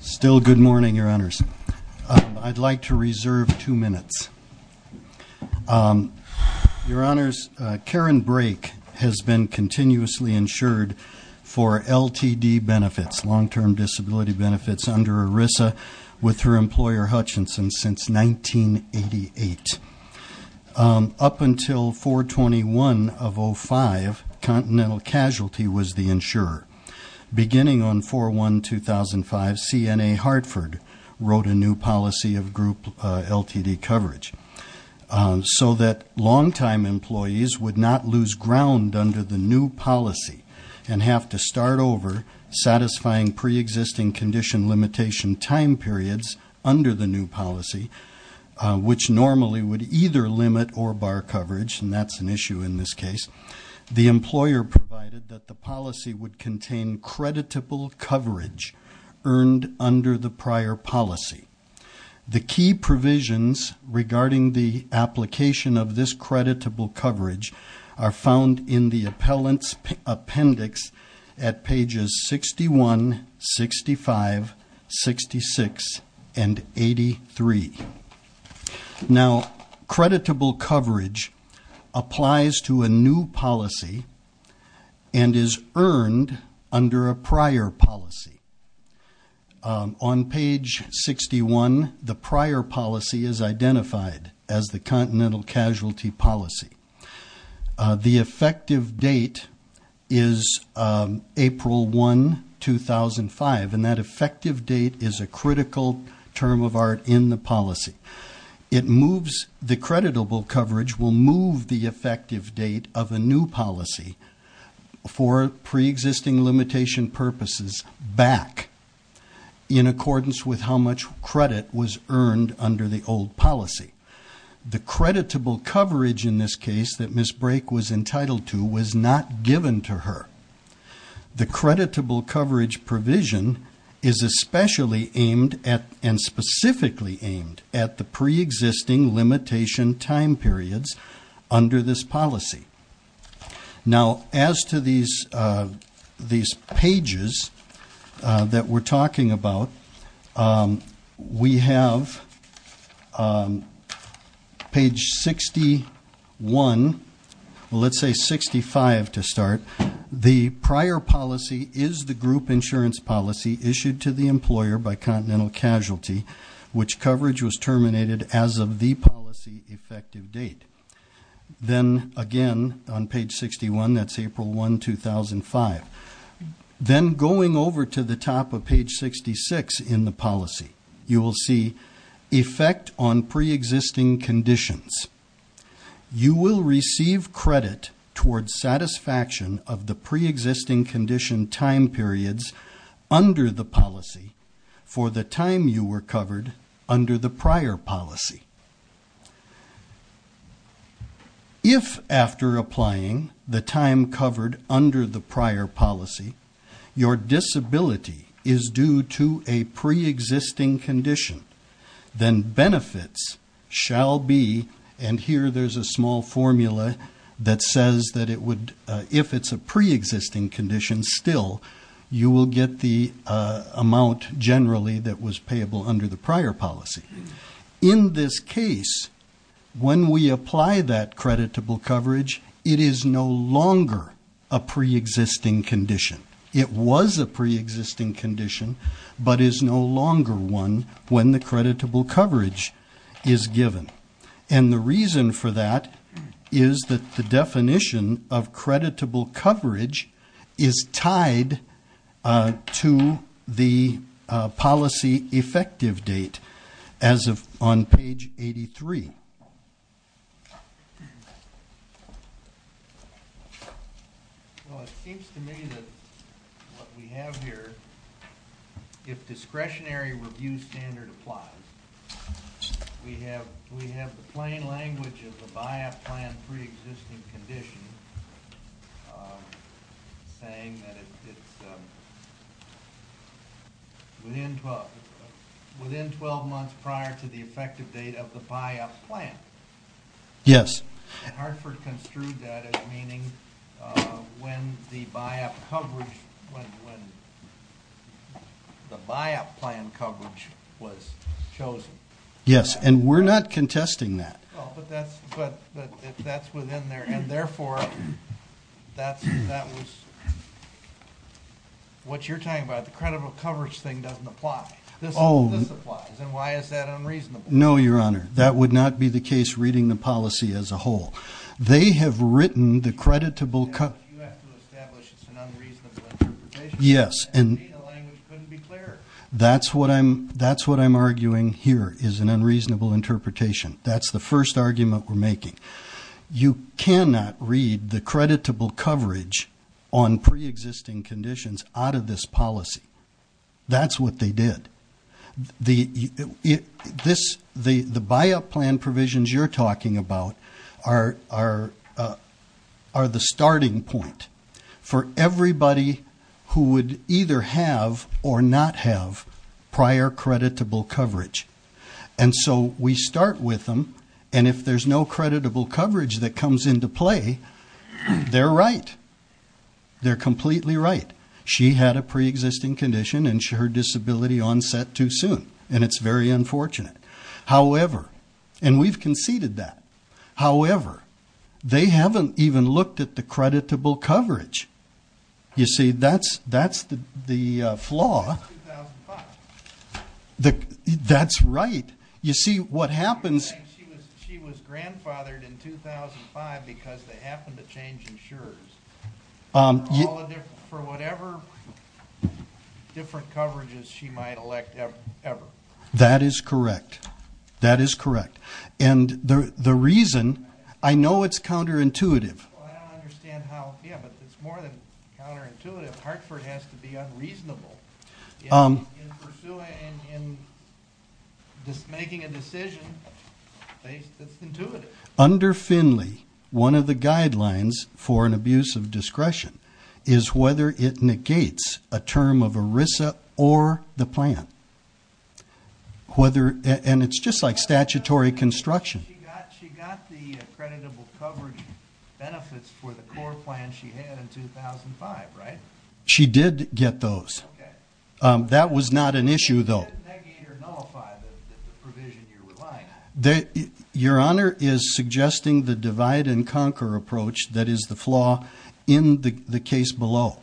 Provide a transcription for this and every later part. Still good morning, Your Honors. I'd like to reserve two minutes. Your Honors, Karen Brake has been continuously insured for LTD benefits, long-term disability benefits, under ERISA with her employer Hutchinson since 1988. Up until 4-21-05, Continental Casualty was the insurer. Beginning on 4-1-2005, CNA Hartford wrote a new policy of group LTD coverage so that long-time employees would not lose ground under the new policy and have to start over satisfying pre-existing condition limitation time periods under the new policy, which normally would either limit or bar coverage, and that's an issue in this case. The employer provided that the policy would contain creditable coverage earned under the prior policy. The key provisions regarding the application of this creditable coverage are found in the appellant's appendix at pages 61, 65, 66, and 83. Now, creditable coverage applies to a new policy and is earned under a prior policy. On page 61, the prior policy is identified as the Continental Casualty policy. The effective date is April 1, 2005, and that effective date is a critical term of art in the policy. The creditable coverage will move the effective date of a new policy for pre-existing limitation purposes back in accordance with how much credit was earned under the old policy. The creditable coverage in this case that Ms. Brake was entitled to was not given to her. The creditable coverage provision is especially aimed at and specifically aimed at the pre-existing limitation time periods under this policy. Now, as to these pages that we're talking about, we have page 61, well, let's say 65 to start. The prior policy is the group insurance policy issued to the employer by Continental Casualty, which coverage was terminated as of the policy effective date. Then, again, on page 61, that's April 1, 2005. Then going over to the top of page 66 in the policy, you will see effect on pre-existing conditions. You will receive credit towards satisfaction of the pre-existing condition time periods under the policy for the time you were covered under the prior policy. If, after applying, the time covered under the prior policy, your disability is due to a pre-existing condition, then benefits shall be, and here there's a small formula that says that it would, if it's a pre-existing condition still, you will get the amount generally that was payable under the prior policy. In this case, when we apply that creditable coverage, it is no longer a pre-existing condition. It was a pre-existing condition, but is no longer one when the creditable coverage is given. And the reason for that is that the definition of creditable coverage is tied to the policy effective date. As of on page 83. Well, it seems to me that what we have here, if discretionary review standard applies, we have the plain language of the BIAP plan pre-existing condition saying that it's within 12 months prior to the effective date of the BIAP plan. Yes. And Hartford construed that as meaning when the BIAP plan coverage was chosen. Yes, and we're not contesting that. But that's within there, and therefore that was, what you're talking about, the creditable coverage thing doesn't apply. Oh. This applies, and why is that unreasonable? No, Your Honor, that would not be the case reading the policy as a whole. They have written the creditable coverage. You have to establish it's an unreasonable interpretation. Yes. And the data language couldn't be clearer. That's what I'm arguing here is an unreasonable interpretation. That's the first argument we're making. You cannot read the creditable coverage on pre-existing conditions out of this policy. That's what they did. The BIAP plan provisions you're talking about are the starting point for everybody who would either have or not have prior creditable coverage. And so we start with them, and if there's no creditable coverage that comes into play, they're right. They're completely right. She had a pre-existing condition, and her disability onset too soon, and it's very unfortunate. However, and we've conceded that, however, they haven't even looked at the creditable coverage. You see, that's the flaw. That's 2005. That's right. You see, what happens She was grandfathered in 2005 because they happened to change insurers. For whatever different coverages she might elect ever. That is correct. That is correct. And the reason, I know it's counterintuitive. I don't understand how, yeah, but it's more than counterintuitive. Hartford has to be unreasonable. In pursuing, in making a decision based, that's intuitive. Under Finley, one of the guidelines for an abuse of discretion is whether it negates a term of ERISA or the plan. Whether, and it's just like statutory construction. She got the creditable coverage benefits for the core plan she had in 2005, right? She did get those. That was not an issue, though. It didn't negate or nullify the provision you're relying on. Your Honor is suggesting the divide and conquer approach that is the flaw in the case below.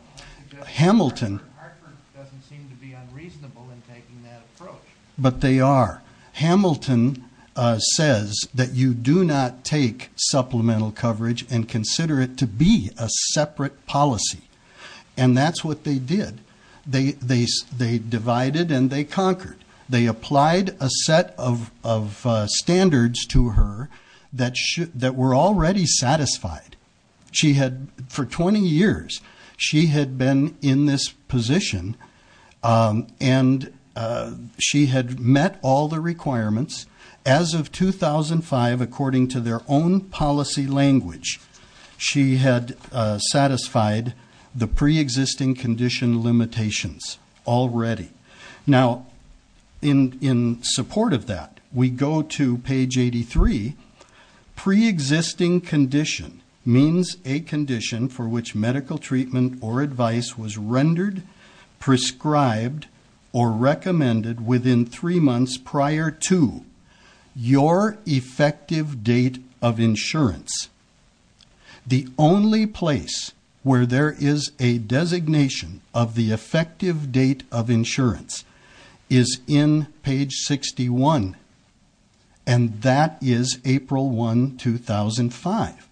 Hamilton. Hartford doesn't seem to be unreasonable in taking that approach. But they are. Hamilton says that you do not take supplemental coverage and consider it to be a separate policy. And that's what they did. They divided and they conquered. They applied a set of standards to her that were already satisfied. For 20 years, she had been in this position and she had met all the requirements. As of 2005, according to their own policy language, she had satisfied the preexisting condition limitations already. Now, in support of that, we go to page 83. Preexisting condition means a condition for which medical treatment or advice was rendered, prescribed, or recommended within three months prior to your effective date of insurance. The only place where there is a designation of the effective date of insurance is in page 61, and that is April 1, 2005.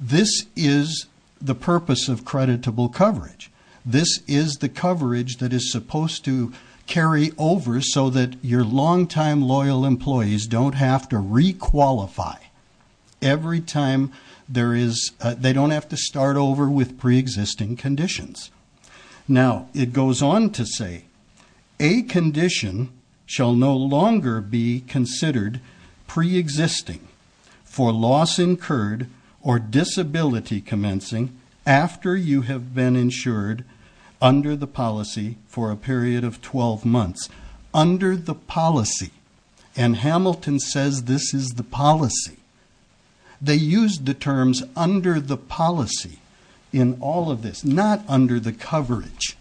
This is the purpose of creditable coverage. This is the coverage that is supposed to carry over so that your long-time loyal employees don't have to requalify every time there is they don't have to start over with preexisting conditions. Now, it goes on to say, a condition shall no longer be considered preexisting for loss incurred or disability commencing after you have been insured under the policy for a period of 12 months. Under the policy. And Hamilton says this is the policy. They used the terms under the policy in all of this, not under the coverage.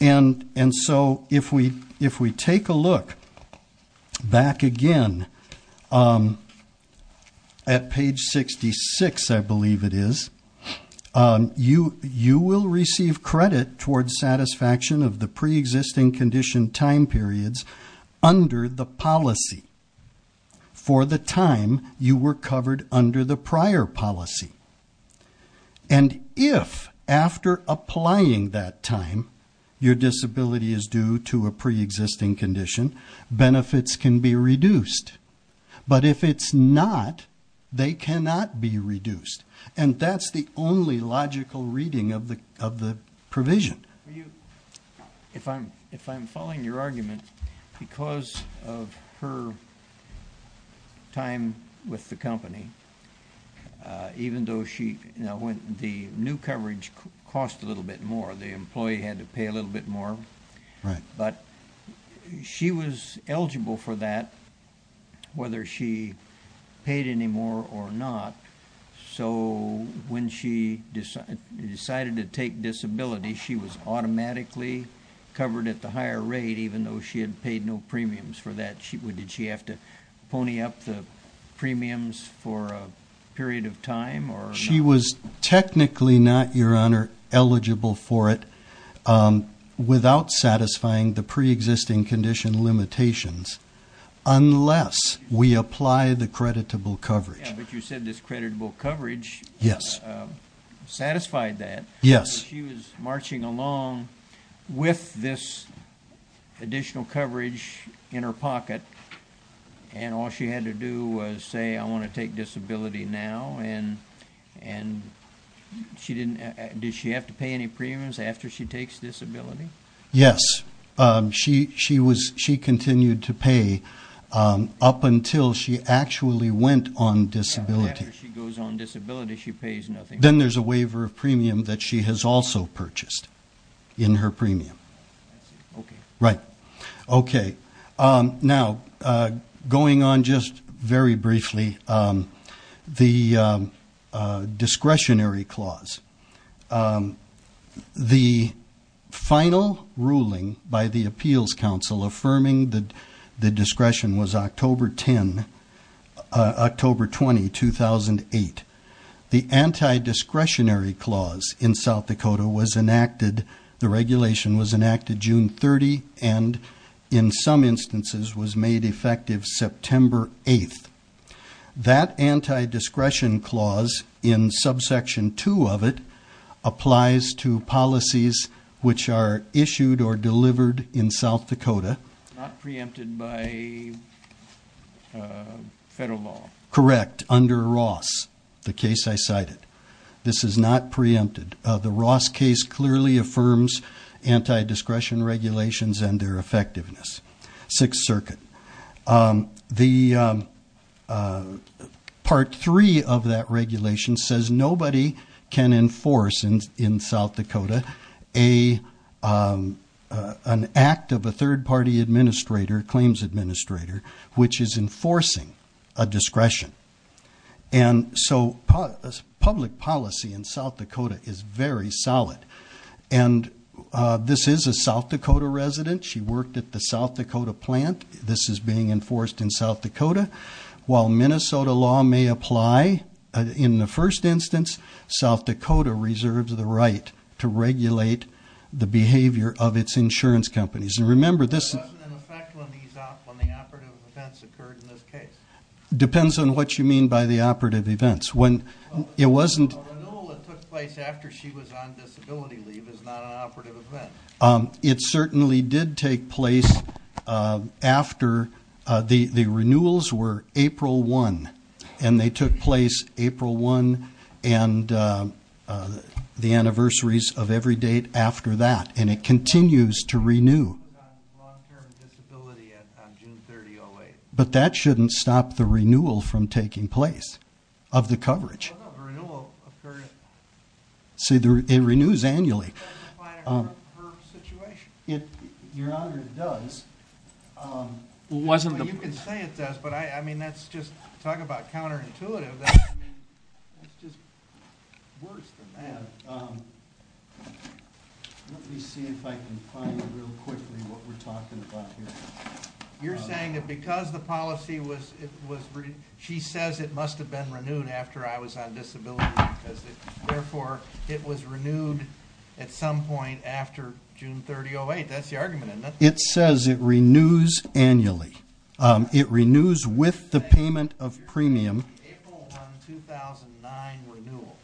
And so, if we take a look back again at page 66, I believe it is, you will receive credit towards satisfaction of the preexisting condition time periods under the policy for the time you were covered under the prior policy. And if, after applying that time, your disability is due to a preexisting condition, benefits can be reduced. But if it's not, they cannot be reduced. And that's the only logical reading of the provision. If I'm following your argument, because of her time with the company, even though the new coverage cost a little bit more, the employee had to pay a little bit more. Right. But she was eligible for that, whether she paid any more or not. So, when she decided to take disability, she was automatically covered at the higher rate, even though she had paid no premiums for that. Did she have to pony up the premiums for a period of time? She was technically not, Your Honor, eligible for it without satisfying the preexisting condition limitations, unless we apply the creditable coverage. But you said this creditable coverage satisfied that. Yes. She was marching along with this additional coverage in her pocket, and all she had to do was say, I want to take disability now. And did she have to pay any premiums after she takes disability? Yes. She continued to pay up until she actually went on disability. After she goes on disability, she pays nothing. Then there's a waiver of premium that she has also purchased in her premium. Okay. Right. Okay. Now, going on just very briefly, the discretionary clause. The final ruling by the Appeals Council affirming the discretion was October 10, October 20, 2008. The anti-discretionary clause in South Dakota was enacted, the regulation was enacted June 30, and in some instances was made effective September 8. That anti-discretion clause in subsection 2 of it applies to policies which are issued or delivered in South Dakota. It's not preempted by federal law. Correct, under Ross, the case I cited. This is not preempted. The Ross case clearly affirms anti-discretion regulations and their effectiveness. The part 3 of that regulation says nobody can enforce in South Dakota an act of a third-party administrator, claims administrator, which is enforcing a discretion. And so public policy in South Dakota is very solid. And this is a South Dakota resident. She worked at the South Dakota plant. This is being enforced in South Dakota. While Minnesota law may apply in the first instance, South Dakota reserves the right to regulate the behavior of its insurance companies. And remember, this — It wasn't in effect when the operative events occurred in this case. Depends on what you mean by the operative events. When it wasn't — The renewal that took place after she was on disability leave is not an operative event. It certainly did take place after — the renewals were April 1. And they took place April 1 and the anniversaries of every date after that. And it continues to renew. But that shouldn't stop the renewal from taking place of the coverage. See, it renews annually. Your Honor, it does. Well, you can say it does, but I mean, that's just — talk about counterintuitive. I mean, that's just worse than that. Let me see if I can find it real quickly, what we're talking about here. You're saying that because the policy was — she says it must have been renewed after I was on disability leave. Therefore, it was renewed at some point after June 30, 2008. That's the argument, isn't it? It says it renews annually. It renews with the payment of premium. April 1, 2009 renewal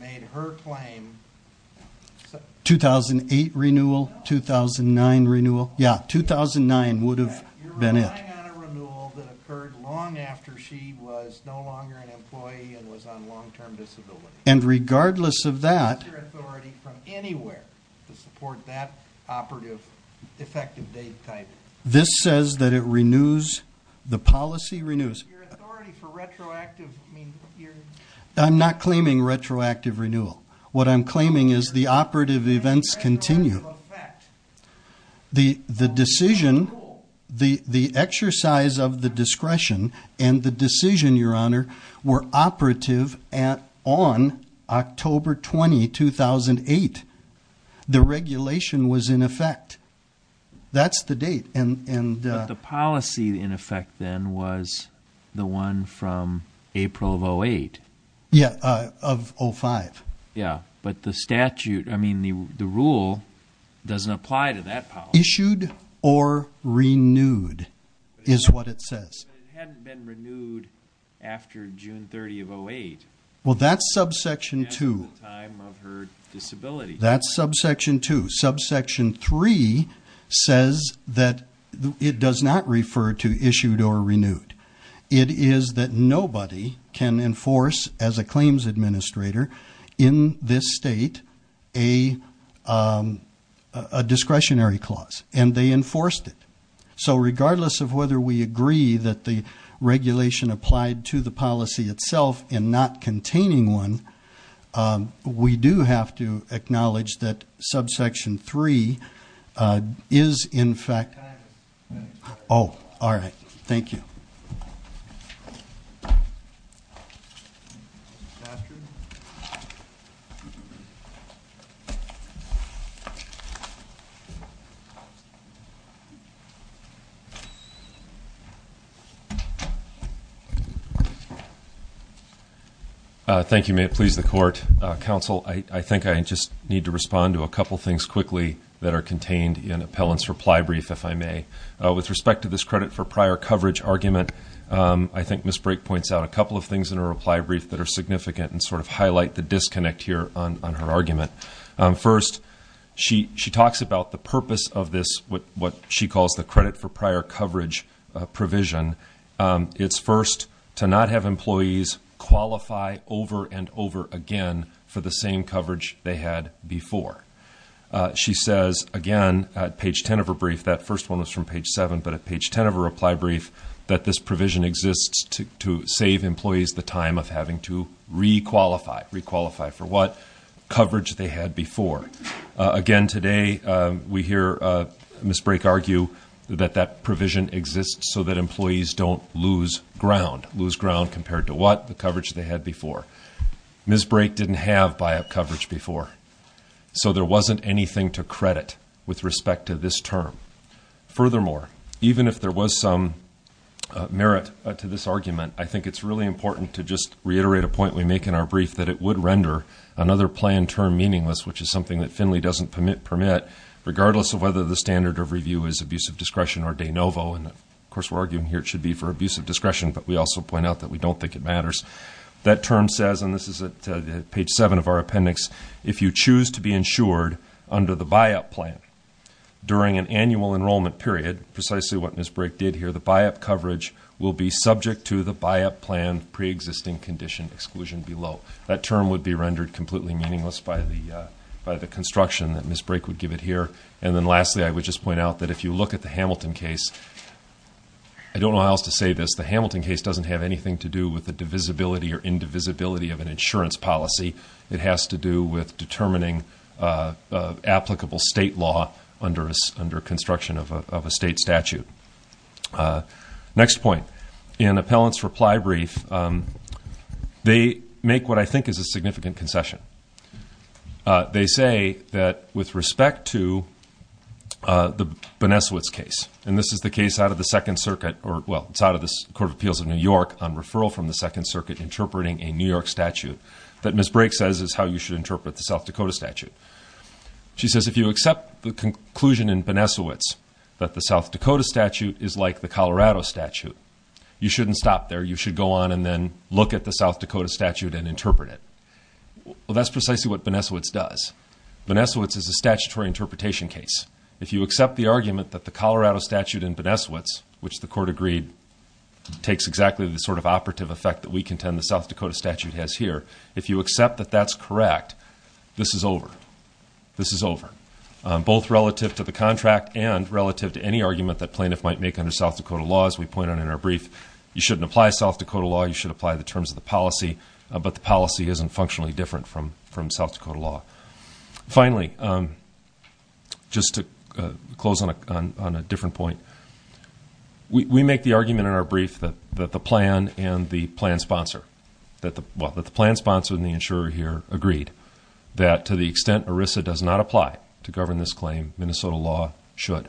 made her claim — 2008 renewal, 2009 renewal? Yeah, 2009 would have been it. You're relying on a renewal that occurred long after she was no longer an employee and was on long-term disability. And regardless of that — It's your authority from anywhere to support that operative, effective date type. This says that it renews — the policy renews. Your authority for retroactive — I'm not claiming retroactive renewal. What I'm claiming is the operative events continue. The decision — the exercise of the discretion and the decision, Your Honor, were operative on October 20, 2008. The regulation was in effect. That's the date. But the policy in effect then was the one from April of 08. Yeah, of 05. Yeah, but the statute — I mean, the rule doesn't apply to that policy. Issued or renewed is what it says. But it hadn't been renewed after June 30 of 08. Well, that's subsection 2. At the time of her disability. That's subsection 2. Subsection 3 says that it does not refer to issued or renewed. It is that nobody can enforce as a claims administrator in this state a discretionary clause. And they enforced it. So regardless of whether we agree that the regulation applied to the policy itself in not containing one, we do have to acknowledge that subsection 3 is in fact — Oh, all right. Thank you. Thank you. May it please the Court. Counsel, I think I just need to respond to a couple things quickly that are contained in Appellant's reply brief, if I may. With respect to this credit for prior coverage argument, I think Ms. Brake points out a couple of things in her reply brief that are significant and sort of highlight the disconnect here on her argument. First, she talks about the purpose of this, what she calls the credit for prior coverage provision. It's first to not have employees qualify over and over again for the same coverage they had before. She says, again, at page 10 of her brief, that first one was from page 7, but at page 10 of her reply brief that this provision exists to save employees the time of having to re-qualify. Re-qualify for what? Coverage they had before. Again, today we hear Ms. Brake argue that that provision exists so that employees don't lose ground. Lose ground compared to what? The coverage they had before. Ms. Brake didn't have buy-up coverage before, so there wasn't anything to credit with respect to this term. Furthermore, even if there was some merit to this argument, I think it's really important to just reiterate a point we make in our brief, that it would render another plan term meaningless, which is something that Finley doesn't permit, regardless of whether the standard of review is abusive discretion or de novo. Of course, we're arguing here it should be for abusive discretion, but we also point out that we don't think it matters. That term says, and this is at page 7 of our appendix, if you choose to be insured under the buy-up plan during an annual enrollment period, precisely what Ms. Brake did here, will be subject to the buy-up plan pre-existing condition exclusion below. That term would be rendered completely meaningless by the construction that Ms. Brake would give it here. And then lastly, I would just point out that if you look at the Hamilton case, I don't know how else to say this, the Hamilton case doesn't have anything to do with the divisibility or indivisibility of an insurance policy. It has to do with determining applicable state law under construction of a state statute. Next point. In appellant's reply brief, they make what I think is a significant concession. They say that with respect to the Bonesiewicz case, and this is the case out of the Second Circuit, or well, it's out of the Court of Appeals of New York on referral from the Second Circuit, interpreting a New York statute, that Ms. Brake says is how you should interpret the South Dakota statute. She says if you accept the conclusion in Bonesiewicz that the South Dakota statute is like the Colorado statute, you shouldn't stop there. You should go on and then look at the South Dakota statute and interpret it. Well, that's precisely what Bonesiewicz does. Bonesiewicz is a statutory interpretation case. If you accept the argument that the Colorado statute in Bonesiewicz, which the court agreed takes exactly the sort of operative effect that we contend the South Dakota statute has here, if you accept that that's correct, this is over. This is over, both relative to the contract and relative to any argument that plaintiff might make under South Dakota law. As we point out in our brief, you shouldn't apply South Dakota law. You should apply the terms of the policy, but the policy isn't functionally different from South Dakota law. Finally, just to close on a different point, we make the argument in our brief that the plan and the plan sponsor, well, that the plan sponsor and the insurer here agreed that to the extent ERISA does not apply to govern this claim, Minnesota law should.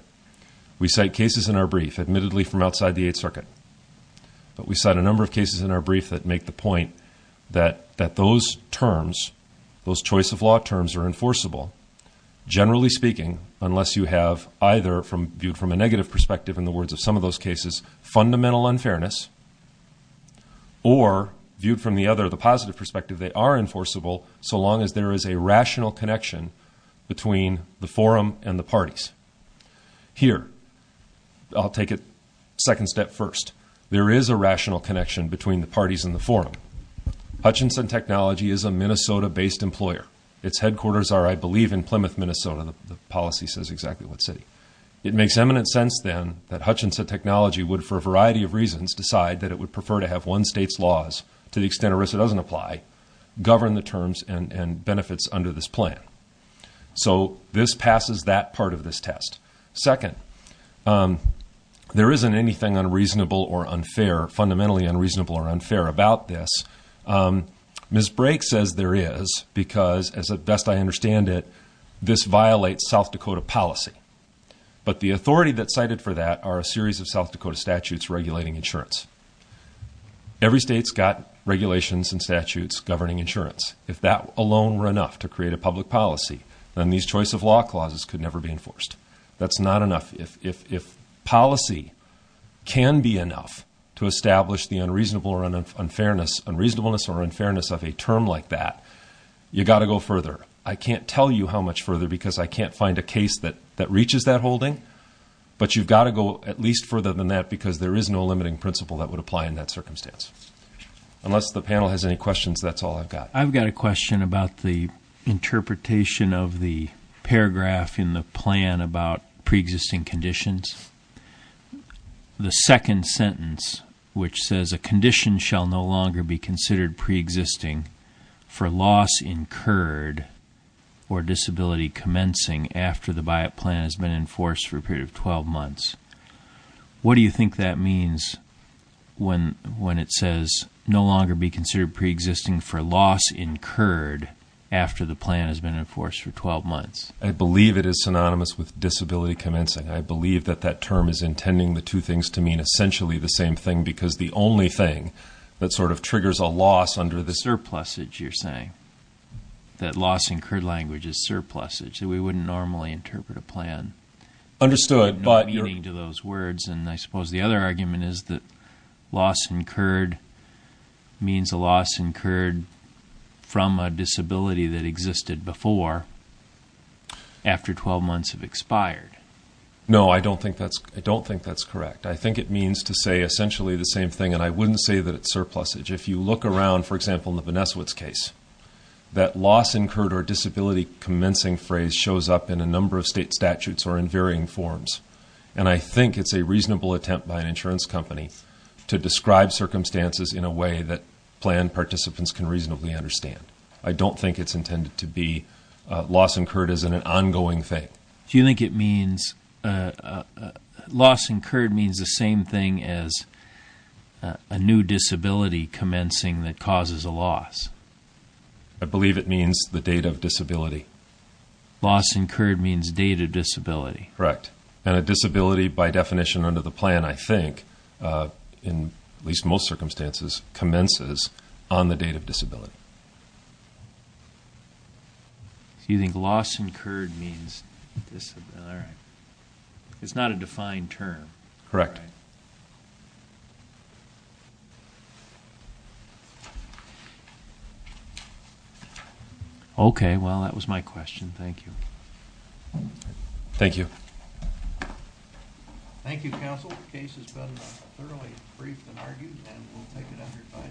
We cite cases in our brief, admittedly from outside the Eighth Circuit, but we cite a number of cases in our brief that make the point that those terms, those choice of law terms are enforceable. Generally speaking, unless you have either viewed from a negative perspective in the words of some of those cases, fundamental unfairness, or viewed from the other, the positive perspective, they are enforceable, so long as there is a rational connection between the forum and the parties. Here, I'll take a second step first. There is a rational connection between the parties and the forum. Hutchinson Technology is a Minnesota-based employer. Its headquarters are, I believe, in Plymouth, Minnesota. The policy says exactly what city. It makes eminent sense, then, that Hutchinson Technology would, for a variety of reasons, decide that it would prefer to have one state's laws, to the extent ERISA doesn't apply, govern the terms and benefits under this plan. So this passes that part of this test. Second, there isn't anything unreasonable or unfair, fundamentally unreasonable or unfair, about this. Ms. Brake says there is because, as best I understand it, this violates South Dakota policy. But the authority that's cited for that are a series of South Dakota statutes regulating insurance. Every state's got regulations and statutes governing insurance. If that alone were enough to create a public policy, then these choice of law clauses could never be enforced. That's not enough. If policy can be enough to establish the unreasonable or unfairness of a term like that, you've got to go further. I can't tell you how much further because I can't find a case that reaches that holding, but you've got to go at least further than that because there is no limiting principle that would apply in that circumstance. Unless the panel has any questions, that's all I've got. I've got a question about the interpretation of the paragraph in the plan about preexisting conditions. The second sentence, which says, A condition shall no longer be considered preexisting for loss incurred or disability commencing after the buyout plan has been enforced for a period of 12 months. What do you think that means when it says, No longer be considered preexisting for loss incurred after the plan has been enforced for 12 months? I believe it is synonymous with disability commencing. I believe that that term is intending the two things to mean essentially the same thing because the only thing that sort of triggers a loss under the… Surplusage, you're saying. That loss incurred language is surplusage. We wouldn't normally interpret a plan… I suppose the other argument is that loss incurred means a loss incurred from a disability that existed before after 12 months have expired. No, I don't think that's correct. I think it means to say essentially the same thing, and I wouldn't say that it's surplusage. If you look around, for example, in the Beneswits case, that loss incurred or disability commencing phrase shows up in a number of state statutes or in varying forms. And I think it's a reasonable attempt by an insurance company to describe circumstances in a way that plan participants can reasonably understand. I don't think it's intended to be loss incurred as an ongoing thing. Do you think it means… Loss incurred means the same thing as a new disability commencing that causes a loss? I believe it means the date of disability. Loss incurred means date of disability. Correct. And a disability by definition under the plan, I think, in at least most circumstances, commences on the date of disability. So you think loss incurred means disability. It's not a defined term. Correct. Okay, well, that was my question. Thank you. Thank you. Thank you, counsel. The case has been thoroughly briefed and argued, and we'll take it up here finally.